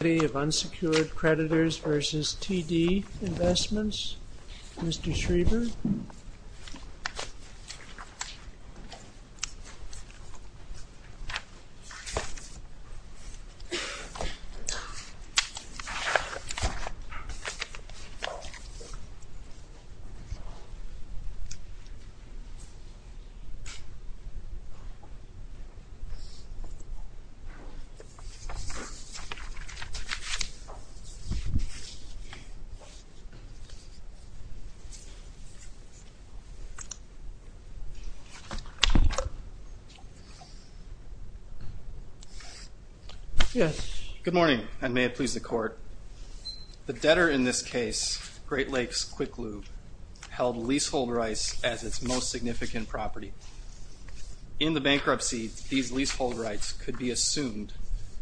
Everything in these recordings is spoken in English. Committee of Unsecured Creditors v. T.D. Investments Mr. Schriever Good morning, and may it please the court. The debtor in this case, Great Lakes Quick Lube, held leasehold rights as its most significant property. In the bankruptcy, these leasehold rights could be assumed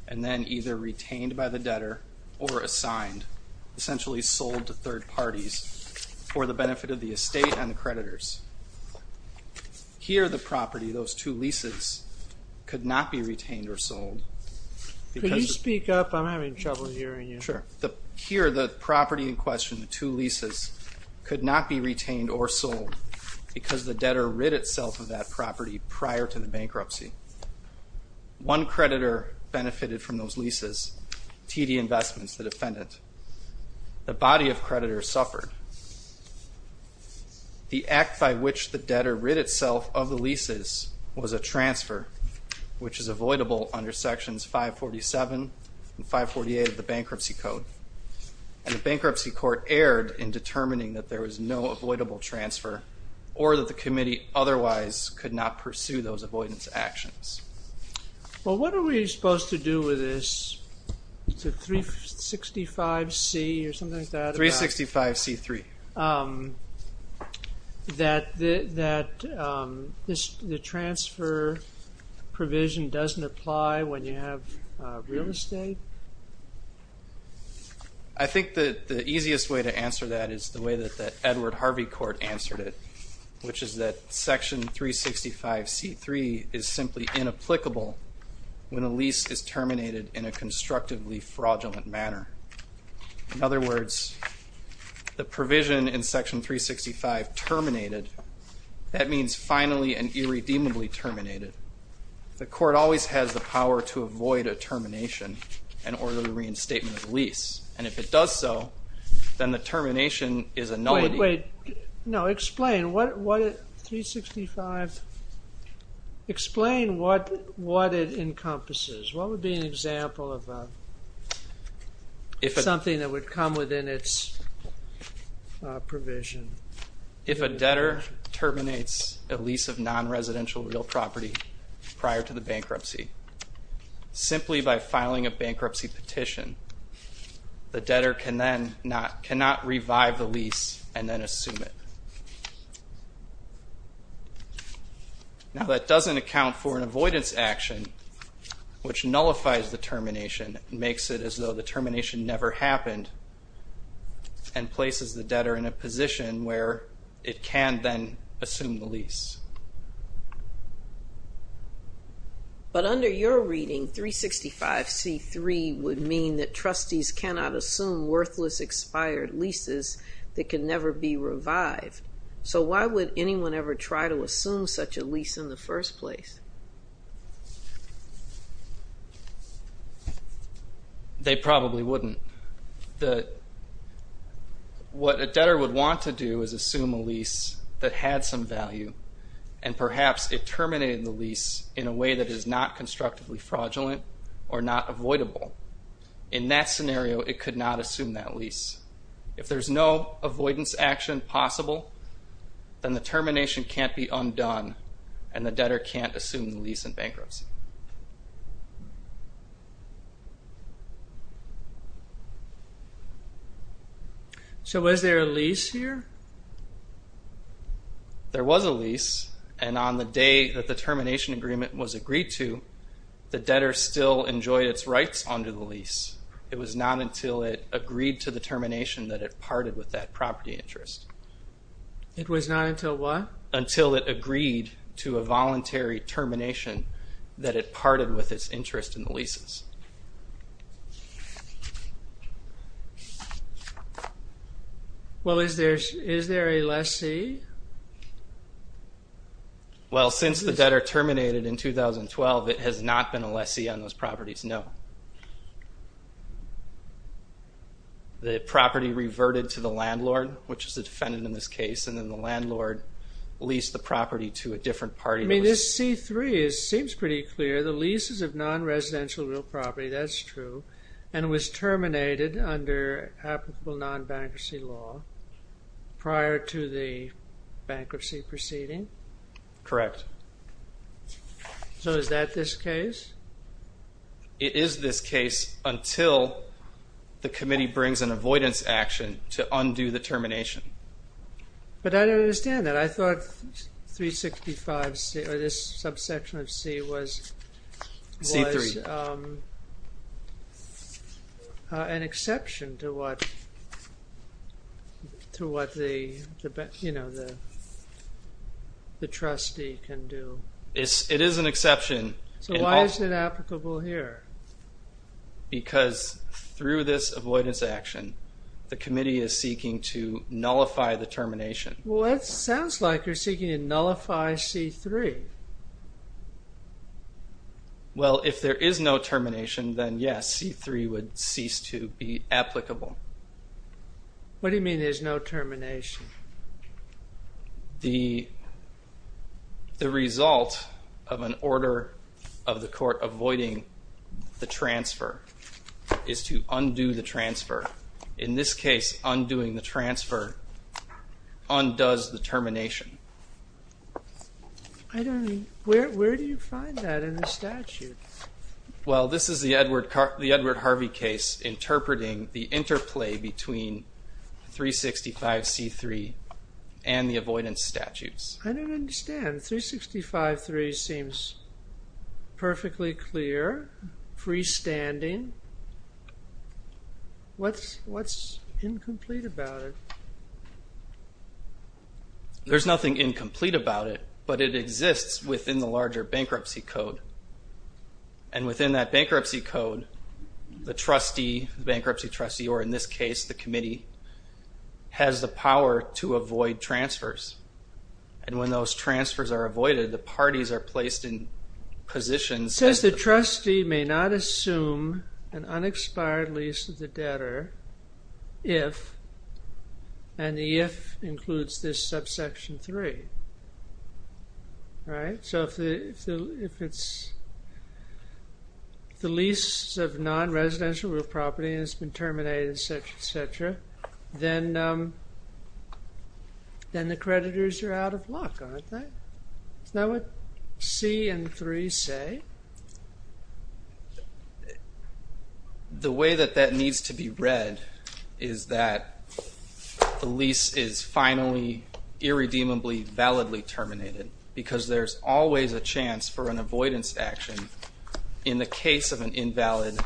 and then either retained by the debtor or assigned, essentially sold to third parties, for the benefit of the estate and the creditors. Here the property, those two leases, could not be retained or sold because the debtor rid itself of that property prior to the bankruptcy. One creditor benefited from those leases, T.D. Investments, the defendant. The body of creditors suffered. The act by which the debtor rid itself of the leases was a transfer, which is avoidable under Sections 547 and 548 of the Bankruptcy Code, and the Bankruptcy Court erred in determining that there was no avoidable transfer or that the committee otherwise could not pursue those avoidance actions. Well what are we supposed to do with this, is it 365C or something like that? 365C3. That the transfer provision doesn't apply when you have real estate? I think that the easiest way to answer that is the way that the Edward Harvey Court answered it, which is that Section 365C3 is simply inapplicable when a lease is terminated in a constructively fraudulent manner. In other words, the provision in Section 365 terminated, that means finally and irredeemably terminated. The court always has the power to avoid a termination in order to reinstate the lease, and if it does so, then the termination is a nullity. Wait, explain what it encompasses, what would be an example of something that would come within its provision? If a debtor terminates a lease of non-residential real property prior to the bankruptcy, simply by filing a bankruptcy petition, the debtor cannot revive the lease and then assume it. Now that doesn't account for an avoidance action, which nullifies the termination, makes it as though the termination never happened, and places the debtor in a position where it can then assume the lease. But under your reading, 365C3 would mean that trustees cannot assume worthless expired leases that can never be revived. So why would anyone ever try to assume such a lease in the first place? They probably wouldn't. What a debtor would want to do is assume a lease that had some value, and perhaps it terminated the lease in a way that is not constructively fraudulent or not avoidable. In that scenario, it could not assume that lease. If there's no avoidance action possible, then the termination can't be undone and the debtor can't assume the lease in bankruptcy. So was there a lease here? There was a lease, and on the day that the termination agreement was agreed to, the debtor still enjoyed its rights under the lease. It was not until it agreed to the termination that it parted with that property interest. It was not until what? Until it agreed to a voluntary termination that it parted with its interest in the leases. Well is there a lessee? Well since the debtor terminated in 2012, it has not been a lessee on those properties, no. The property reverted to the landlord, which is the defendant in this case, and then the landlord leased the property to a different party. I mean this C-3 seems pretty clear. The leases of non-residential real property, that's true, and it was terminated under applicable non-bankruptcy law prior to the bankruptcy proceeding? Correct. So is that this case? It is this case until the committee brings an avoidance action to undo the termination. But I don't understand that. I thought this subsection of C was an exception to what the trustee can do. It is an exception. So why is it applicable here? Because through this avoidance action, the committee is seeking to nullify the termination. Well it sounds like you're seeking to nullify C-3. Well if there is no termination, then yes, C-3 would cease to be applicable. What do you mean there's no termination? The result of an order of the court avoiding the transfer is to undo the transfer. In this case, undoing the transfer undoes the termination. I don't, where do you find that in the statute? Well this is the Edward Harvey case interpreting the interplay between 365-C-3 and the avoidance statutes. I don't understand, 365-C-3 seems perfectly clear, freestanding. What's incomplete about it? There's nothing incomplete about it, but it exists within the larger bankruptcy code. And within that bankruptcy code, the trustee, the bankruptcy trustee, or in this case the committee, has the power to avoid transfers. And when those transfers are avoided, the parties are placed in positions. It says the trustee may not assume an unexpired lease of the debtor if, and the if includes this subsection 3, right? So if it's the lease of non-residential real property and it's been terminated, etc., etc., then the creditors are out of luck, aren't they? Is that what C and 3 say? The way that that needs to be read is that the lease is finally irredeemably validly terminated because there's always a chance for an avoidance action in the case of an invalid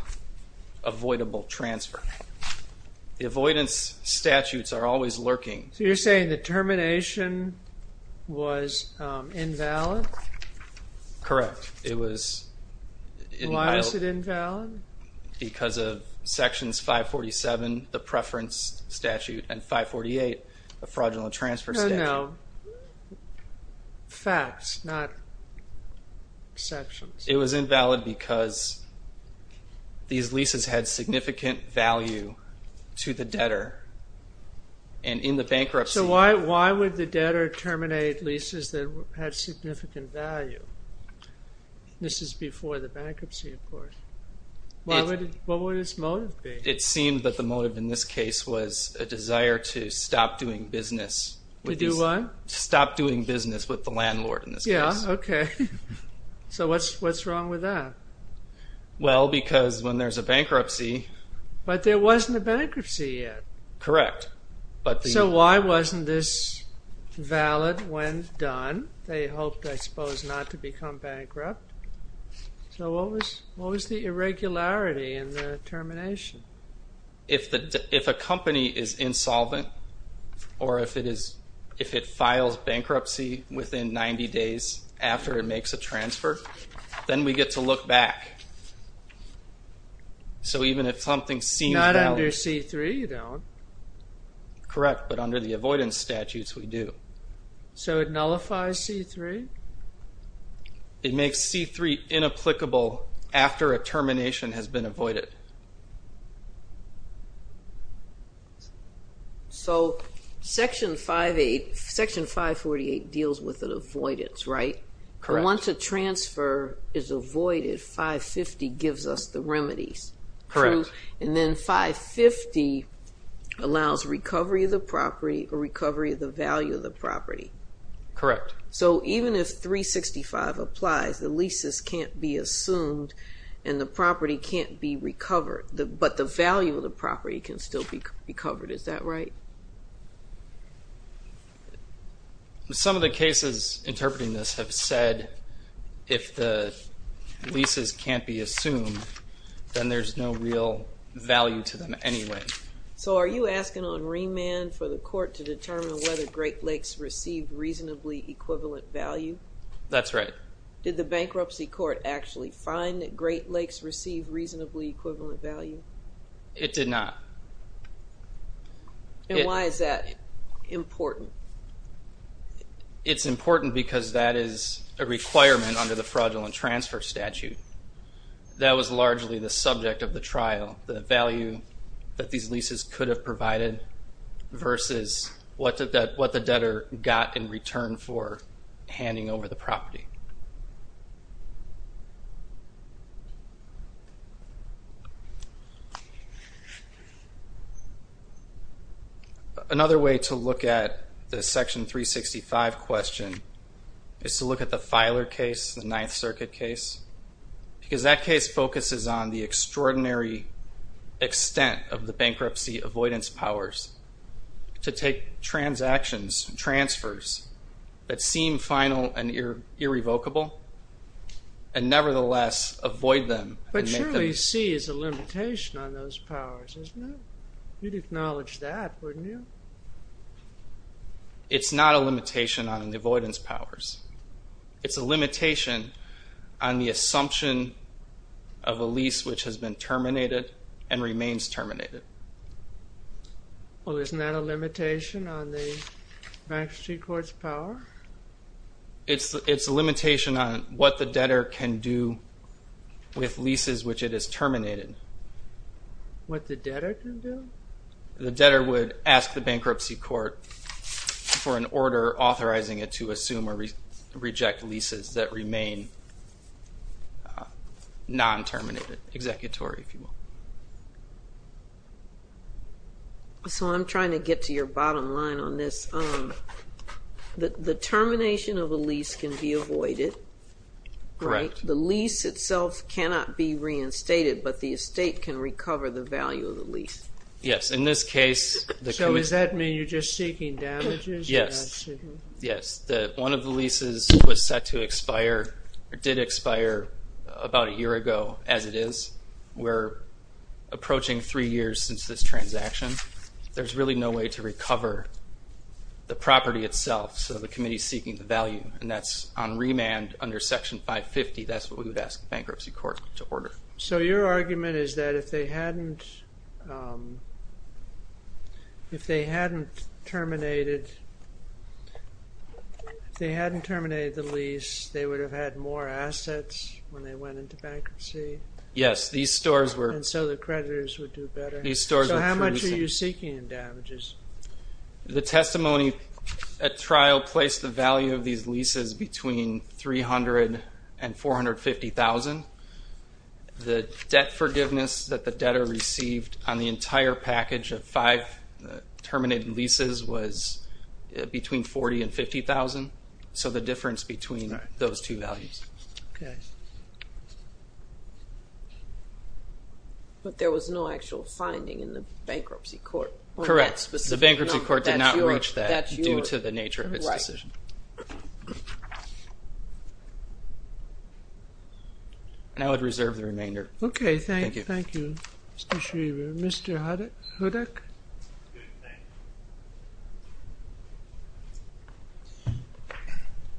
avoidable transfer. The avoidance statutes are always lurking. So you're saying the termination was invalid? Correct. It was invalid. Why is it invalid? Because of sections 547, the preference statute, and 548, the fraudulent transfer statute. No, no. Facts, not sections. It was invalid because these leases had significant value to the debtor. So why would the debtor terminate leases that had significant value? This is before the bankruptcy, of course. What would its motive be? It seemed that the motive in this case was a desire to stop doing business with the landlord. So what's wrong with that? Well, because when there's a bankruptcy... But there wasn't a bankruptcy yet. Correct. So why wasn't this valid when done? They hoped, I suppose, not to become bankrupt. So what was the irregularity in the termination? If a company is insolvent or if it files bankruptcy within 90 days after it makes a transfer, then we get to look back. So even if something seemed valid... Not under C-3, you don't. Correct, but under the avoidance statutes, we do. So it nullifies C-3? It makes C-3 inapplicable after a termination has been avoided. So section 548 deals with an avoidance, right? Correct. Once a transfer is avoided, 550 gives us the remedies. Correct. And then 550 allows recovery of the property or recovery of the value of the property. Correct. So even if 365 applies, the leases can't be assumed and the property can't be recovered, but the value of the property can still be recovered. Is that right? Some of the cases interpreting this have said if the leases can't be assumed, then there's no real value to them anyway. So are you asking on remand for the court to determine whether Great Lakes received reasonably equivalent value? That's right. Did the bankruptcy court actually find that Great Lakes received reasonably equivalent value? It did not. And why is that important? It's important because that is a requirement under the fraudulent transfer statute. That was largely the subject of the trial, the value that these leases could have provided versus what the debtor got in return for handing over the property. Another way to look at the Section 365 question is to look at the Filer case, the Ninth Circuit case, because that case focuses on the extraordinary extent of the bankruptcy avoidance powers to take transactions, transfers that seem final and irreversible, and nevertheless avoid them. But surely C is a limitation on those powers, isn't it? You'd acknowledge that, wouldn't you? It's not a limitation on the avoidance powers. It's a limitation on the assumption of a lease which has been terminated and remains terminated. Well, isn't that a limitation on the bankruptcy court's power? It's a limitation on what the debtor can do with leases which it has terminated. What the debtor can do? The debtor would ask the bankruptcy court for an order authorizing it to assume or reject leases that remain non-terminated, executory, if you will. So I'm trying to get to your bottom line on this. The termination of a lease can be avoided, right? Correct. The lease itself cannot be reinstated, but the estate can recover the value of the lease. Yes. In this case... So does that mean you're just seeking damages? Yes. Yes. One of the leases was set to expire or did expire about a year ago, as it is, we're approaching three years since this transaction. There's really no way to recover the property itself, so the committee is seeking the value. And that's on remand under Section 550. That's what we would ask the bankruptcy court to order. So your argument is that if they hadn't terminated the lease, Yes, these stores were... And so the creditors would do better. So how much are you seeking in damages? The testimony at trial placed the value of these leases between $300,000 and $450,000. The debt forgiveness that the debtor received on the entire package of five terminated leases was between $40,000 and $50,000. So the difference between those two values. Okay. But there was no actual finding in the bankruptcy court. Correct. The bankruptcy court did not reach that due to the nature of its decision. Right. And I would reserve the remainder. Okay, thank you. Thank you. Mr. Schriever. Mr. Hudick.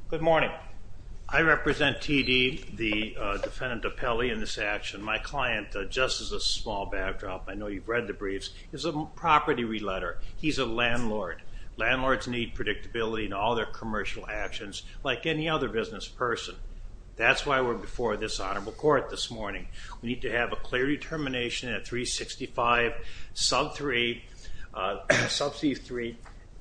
Good morning. I represent TD, the defendant of Pelley in this action. My client, just as a small backdrop, I know you've read the briefs, is a property re-letter. He's a landlord. Landlords need predictability in all their commercial actions like any other business person. That's why we're before this honorable court this morning. We need to have a clear determination that 365, sub 3, sub 3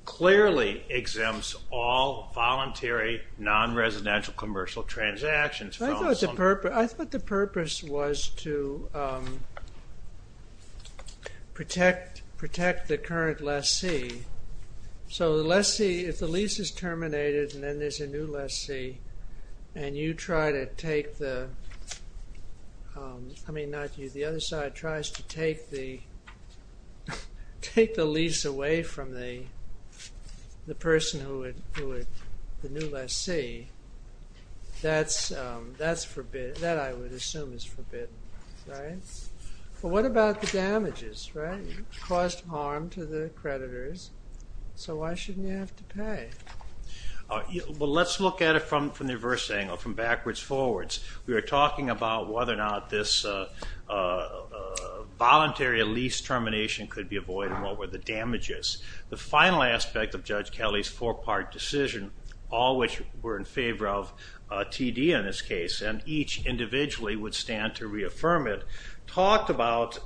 clearly exempts all voluntary non-residential commercial transactions. I thought the purpose was to protect the current lessee. So the lessee, if the lease is terminated and then there's a new lessee and you try to take the, I mean not you, but the other side tries to take the lease away from the person who is the new lessee, that I would assume is forbidden. Right? But what about the damages? Right? You caused harm to the creditors, so why shouldn't you have to pay? Well, let's look at it from the reverse angle, from backwards forwards. We were talking about whether or not this voluntary lease termination could be avoided and what were the damages. The final aspect of Judge Kelly's four-part decision, all which were in favor of TD in this case, and each individually would stand to reaffirm it, talked about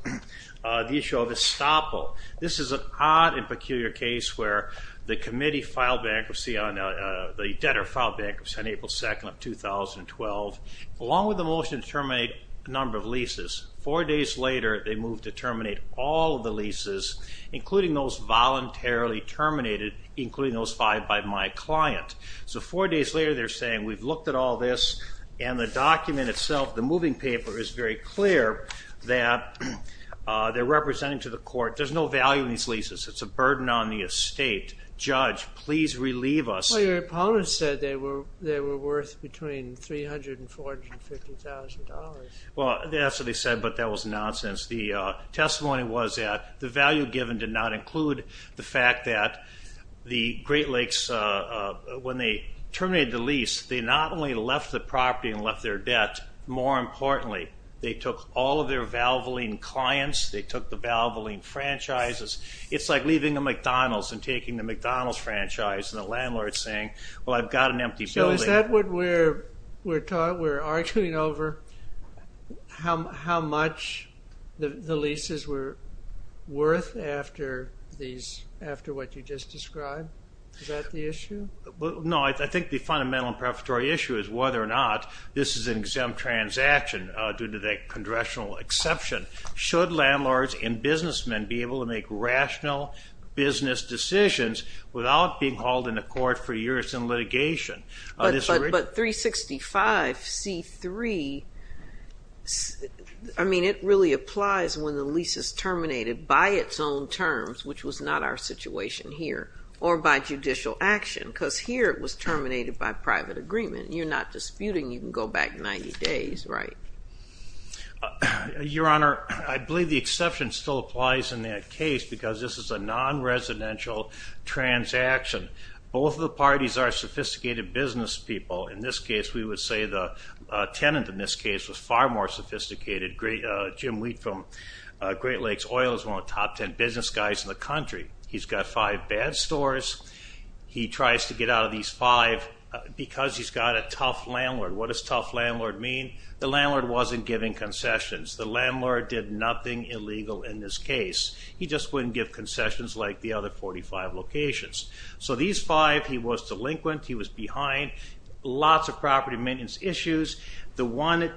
the issue of estoppel. This is an odd and peculiar case where the committee filed bankruptcy on, the debtor filed bankruptcy on April 2nd of 2012. Along with the motion to terminate a number of leases, four days later they moved to terminate all of the leases, including those voluntarily terminated, including those five by my client. So four days later they're saying, we've looked at all this and the document itself, the moving paper is very clear that they're representing to the court, there's no value in these leases, it's a burden on the estate. Judge, please relieve us. Your opponent said they were worth between $300,000 and $450,000. Well, that's what he said, but that was nonsense. The testimony was that the value given did not include the fact that the Great Lakes, when they terminated the lease, they not only left the property and left their debt, more importantly, they took all of their Valvoline clients, they took the Valvoline franchises. It's like leaving a McDonald's and taking the McDonald's franchise and the landlord's saying, well, I've got an empty building. So is that what we're arguing over? How much the leases were worth after what you just described? Is that the issue? No, I think the fundamental issue is whether or not this is an exempt transaction due to the congressional exception. Should landlords and businessmen be able to make rational business decisions without being hauled into court for years in litigation? But 365C3, I mean, it really applies when the lease is terminated by its own terms, which was not our situation here, or by judicial action, because here it was terminated by private agreement. You're not disputing you can go back 90 days, right? Your Honor, I believe the exception still applies in that case because this is a non-residential transaction. Both of the parties are sophisticated business people. In this case, we would say the tenant in this case was far more sophisticated. Jim Wheat from Great Lakes Oil is one of the top ten business guys in the country. He's got five bad stores. He tries to get out of these five because he's got a tough landlord. What does tough landlord mean? The landlord wasn't giving concessions. The landlord did nothing illegal in this case. He just wouldn't give concessions like the other 45 locations. So these five, he was delinquent. He was behind. Lots of property maintenance issues. The one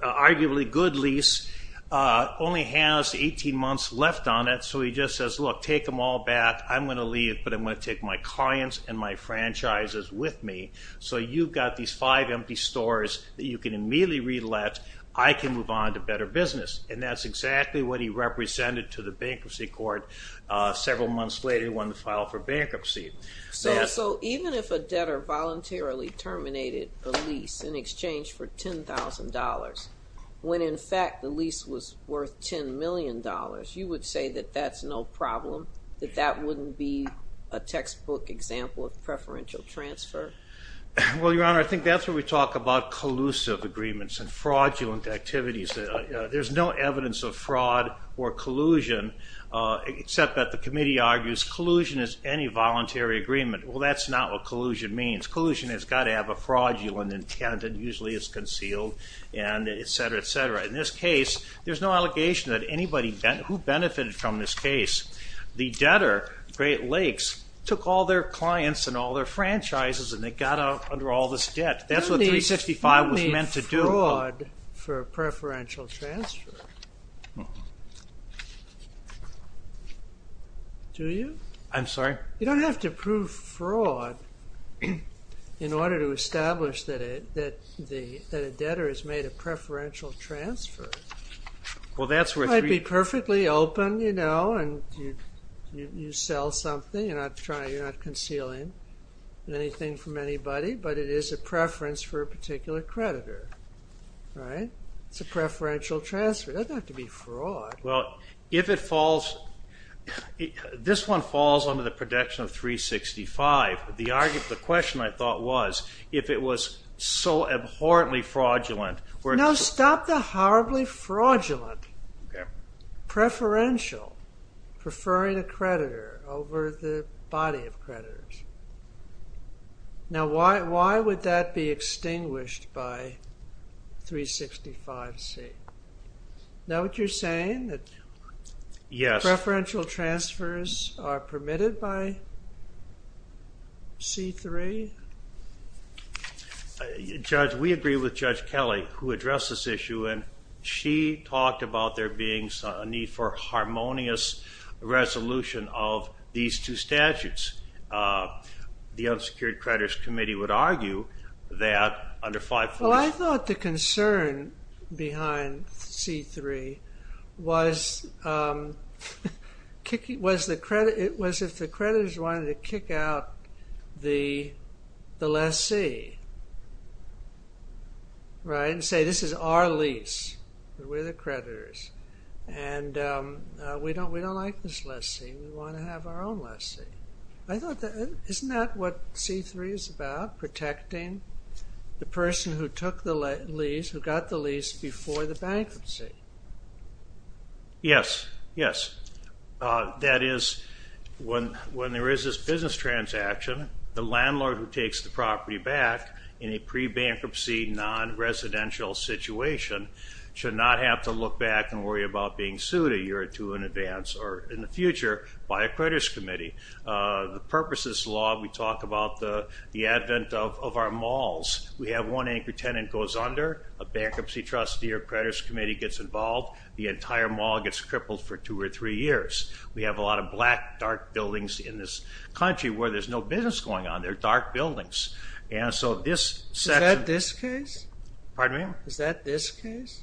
arguably good lease only has 18 months left on it. So he just says, look, take them all back. I'm going to leave, but I'm going to take my clients and my franchises with me. So you've got these five empty stores that you can immediately relet. I can move on to better business. And that's exactly what he represented to the bankruptcy court several months later when he filed for bankruptcy. So even if a debtor voluntarily terminated a lease in exchange for $10,000, when in fact the lease was worth $10 million, you would say that that's no problem? That that wouldn't be a textbook example of preferential transfer? Well, Your Honor, I think that's where we talk about collusive agreements and fraudulent activities. There's no evidence of fraud or collusion except that the committee argues collusion is any voluntary agreement. Well, that's not what collusion means. Collusion has got to have a fraudulent intent and usually it's concealed, and et cetera, et cetera. In this case, there's no allegation that anybody who benefited from this case, the debtor, Great Lakes, took all their clients and all their franchises and they got under all this debt. That's what 365 was meant to do. You don't need fraud for preferential transfer. Do you? I'm sorry? You don't have to prove fraud in order to establish that a debtor has made a preferential transfer. Well, that's where... I'd be perfectly open, you know, and you sell something and you're not concealing anything from anybody, but it is a preference for a particular creditor. Right? It's a preferential transfer. It doesn't have to be fraud. Well, if it falls... This one falls under the protection of 365. The question, I thought, was if it was so abhorrently fraudulent... No, stop the horribly fraudulent preferential preferring a creditor over the body of creditors. Now, why would that be extinguished by 365C? Is that what you're saying? Yes. Preferential transfers are permitted by C-3? Judge, we agree with Judge Kelly who addressed this issue and she talked about there being a need for a harmonious resolution of these two statutes. The Unsecured Creditors Committee would argue that under 540... Well, I thought the concern behind C-3 was if the creditors wanted to kick out the lessee. Right? And say, this is our lease. We're the creditors. And we don't like this lessee. We want to have our own lessee. Isn't that what C-3 is about? Protecting the person who took the lease, who got the lease before the bankruptcy? Yes. Yes. That is, when there is this business transaction, the landlord who takes the property back in a pre-bankruptcy non-residential situation should not have to look back and worry about being sued a year or two in advance or in the future by a creditors committee. The purpose of this law, we talk about the advent of our malls. We have one angry tenant goes under, a bankruptcy trustee or creditors committee gets involved, the entire mall gets crippled for two or three years. We have a lot of black, dark buildings in this country where there's no business going on. They're dark buildings. And so this section... Is that this case?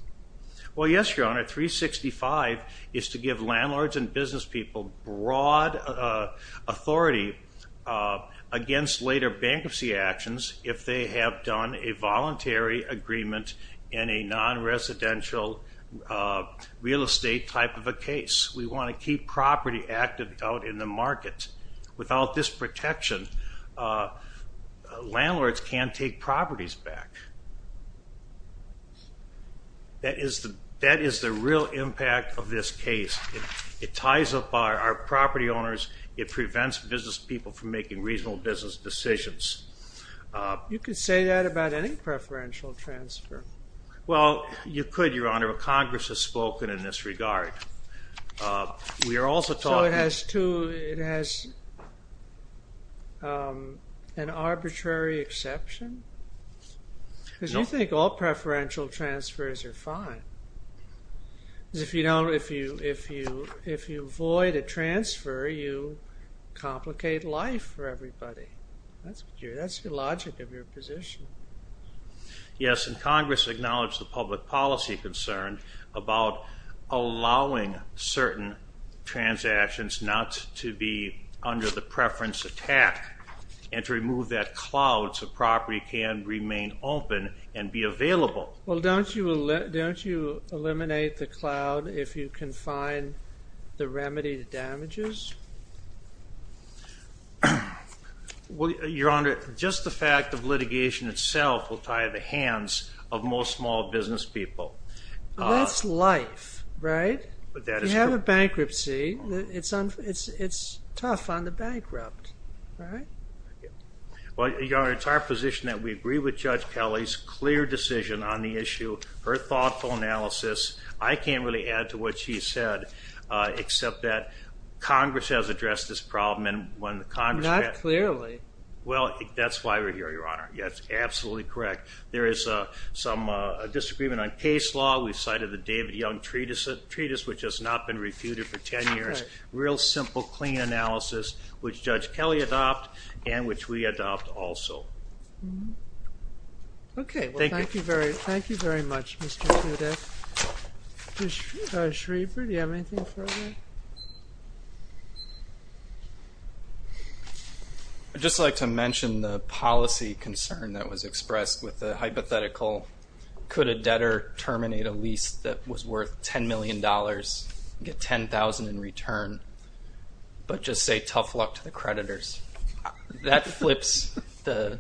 Well, yes, Your Honor. C-365 is to give landlords and business people broad authority against later bankruptcy actions if they have done a voluntary agreement in a non-residential real estate type of a case. We want to keep property active out in the market. Without this protection, landlords can't take properties back. That is the real impact of this case. It ties up our property owners. It prevents business people from making reasonable business decisions. You could say that about any preferential transfer. Well, you could, Your Honor. Congress has spoken in this regard. We are also talking... So it has an arbitrary exception? No. I think all preferential transfers are fine. If you avoid a transfer, you complicate life for everybody. That's the logic of your position. Yes, and Congress acknowledged the public policy concern about allowing certain transactions not to be under the preference attack and to remove that cloud so property can remain open and be available. Don't you eliminate the cloud if you can find the remedy to damages? Your Honor, just the fact of litigation itself will tie the hands of most small business people. That's life, right? If you have a bankruptcy, it's tough on the bankrupt. All right. Your Honor, it's our position that we agree with Judge Kelly's clear decision on the issue, her thoughtful analysis. I can't really add to what she said, except that Congress has addressed this problem and when Congress... Not clearly. Well, that's why we're here, Your Honor. That's absolutely correct. There is some disagreement on case law. We've cited the David Young Treatise, which has not been refuted for 10 years. Real simple, clean analysis, which Judge Kelly adopted and which we adopted also. Thank you. Thank you very much, Mr. Judith. Judge Schriever, do you have anything further? I'd just like to mention the policy concern that was expressed with the hypothetical could a debtor terminate a lease that was worth $10 million and get $10,000 in return but just say tough luck to the creditors. That flips the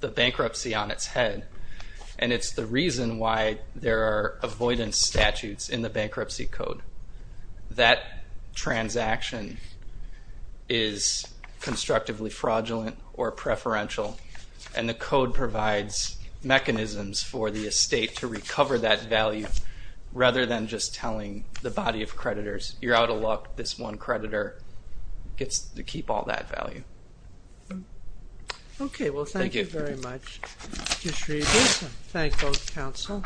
bankruptcy on its head and it's the reason why there are avoidance statutes in the bankruptcy code. That transaction is constructively fraudulent or preferential and the code provides mechanisms for the estate to recover that value rather than just telling the body of creditors you're out of luck, this one creditor gets to keep all that value. Okay, well thank you very much. Judge Schriever. Thank both counsel.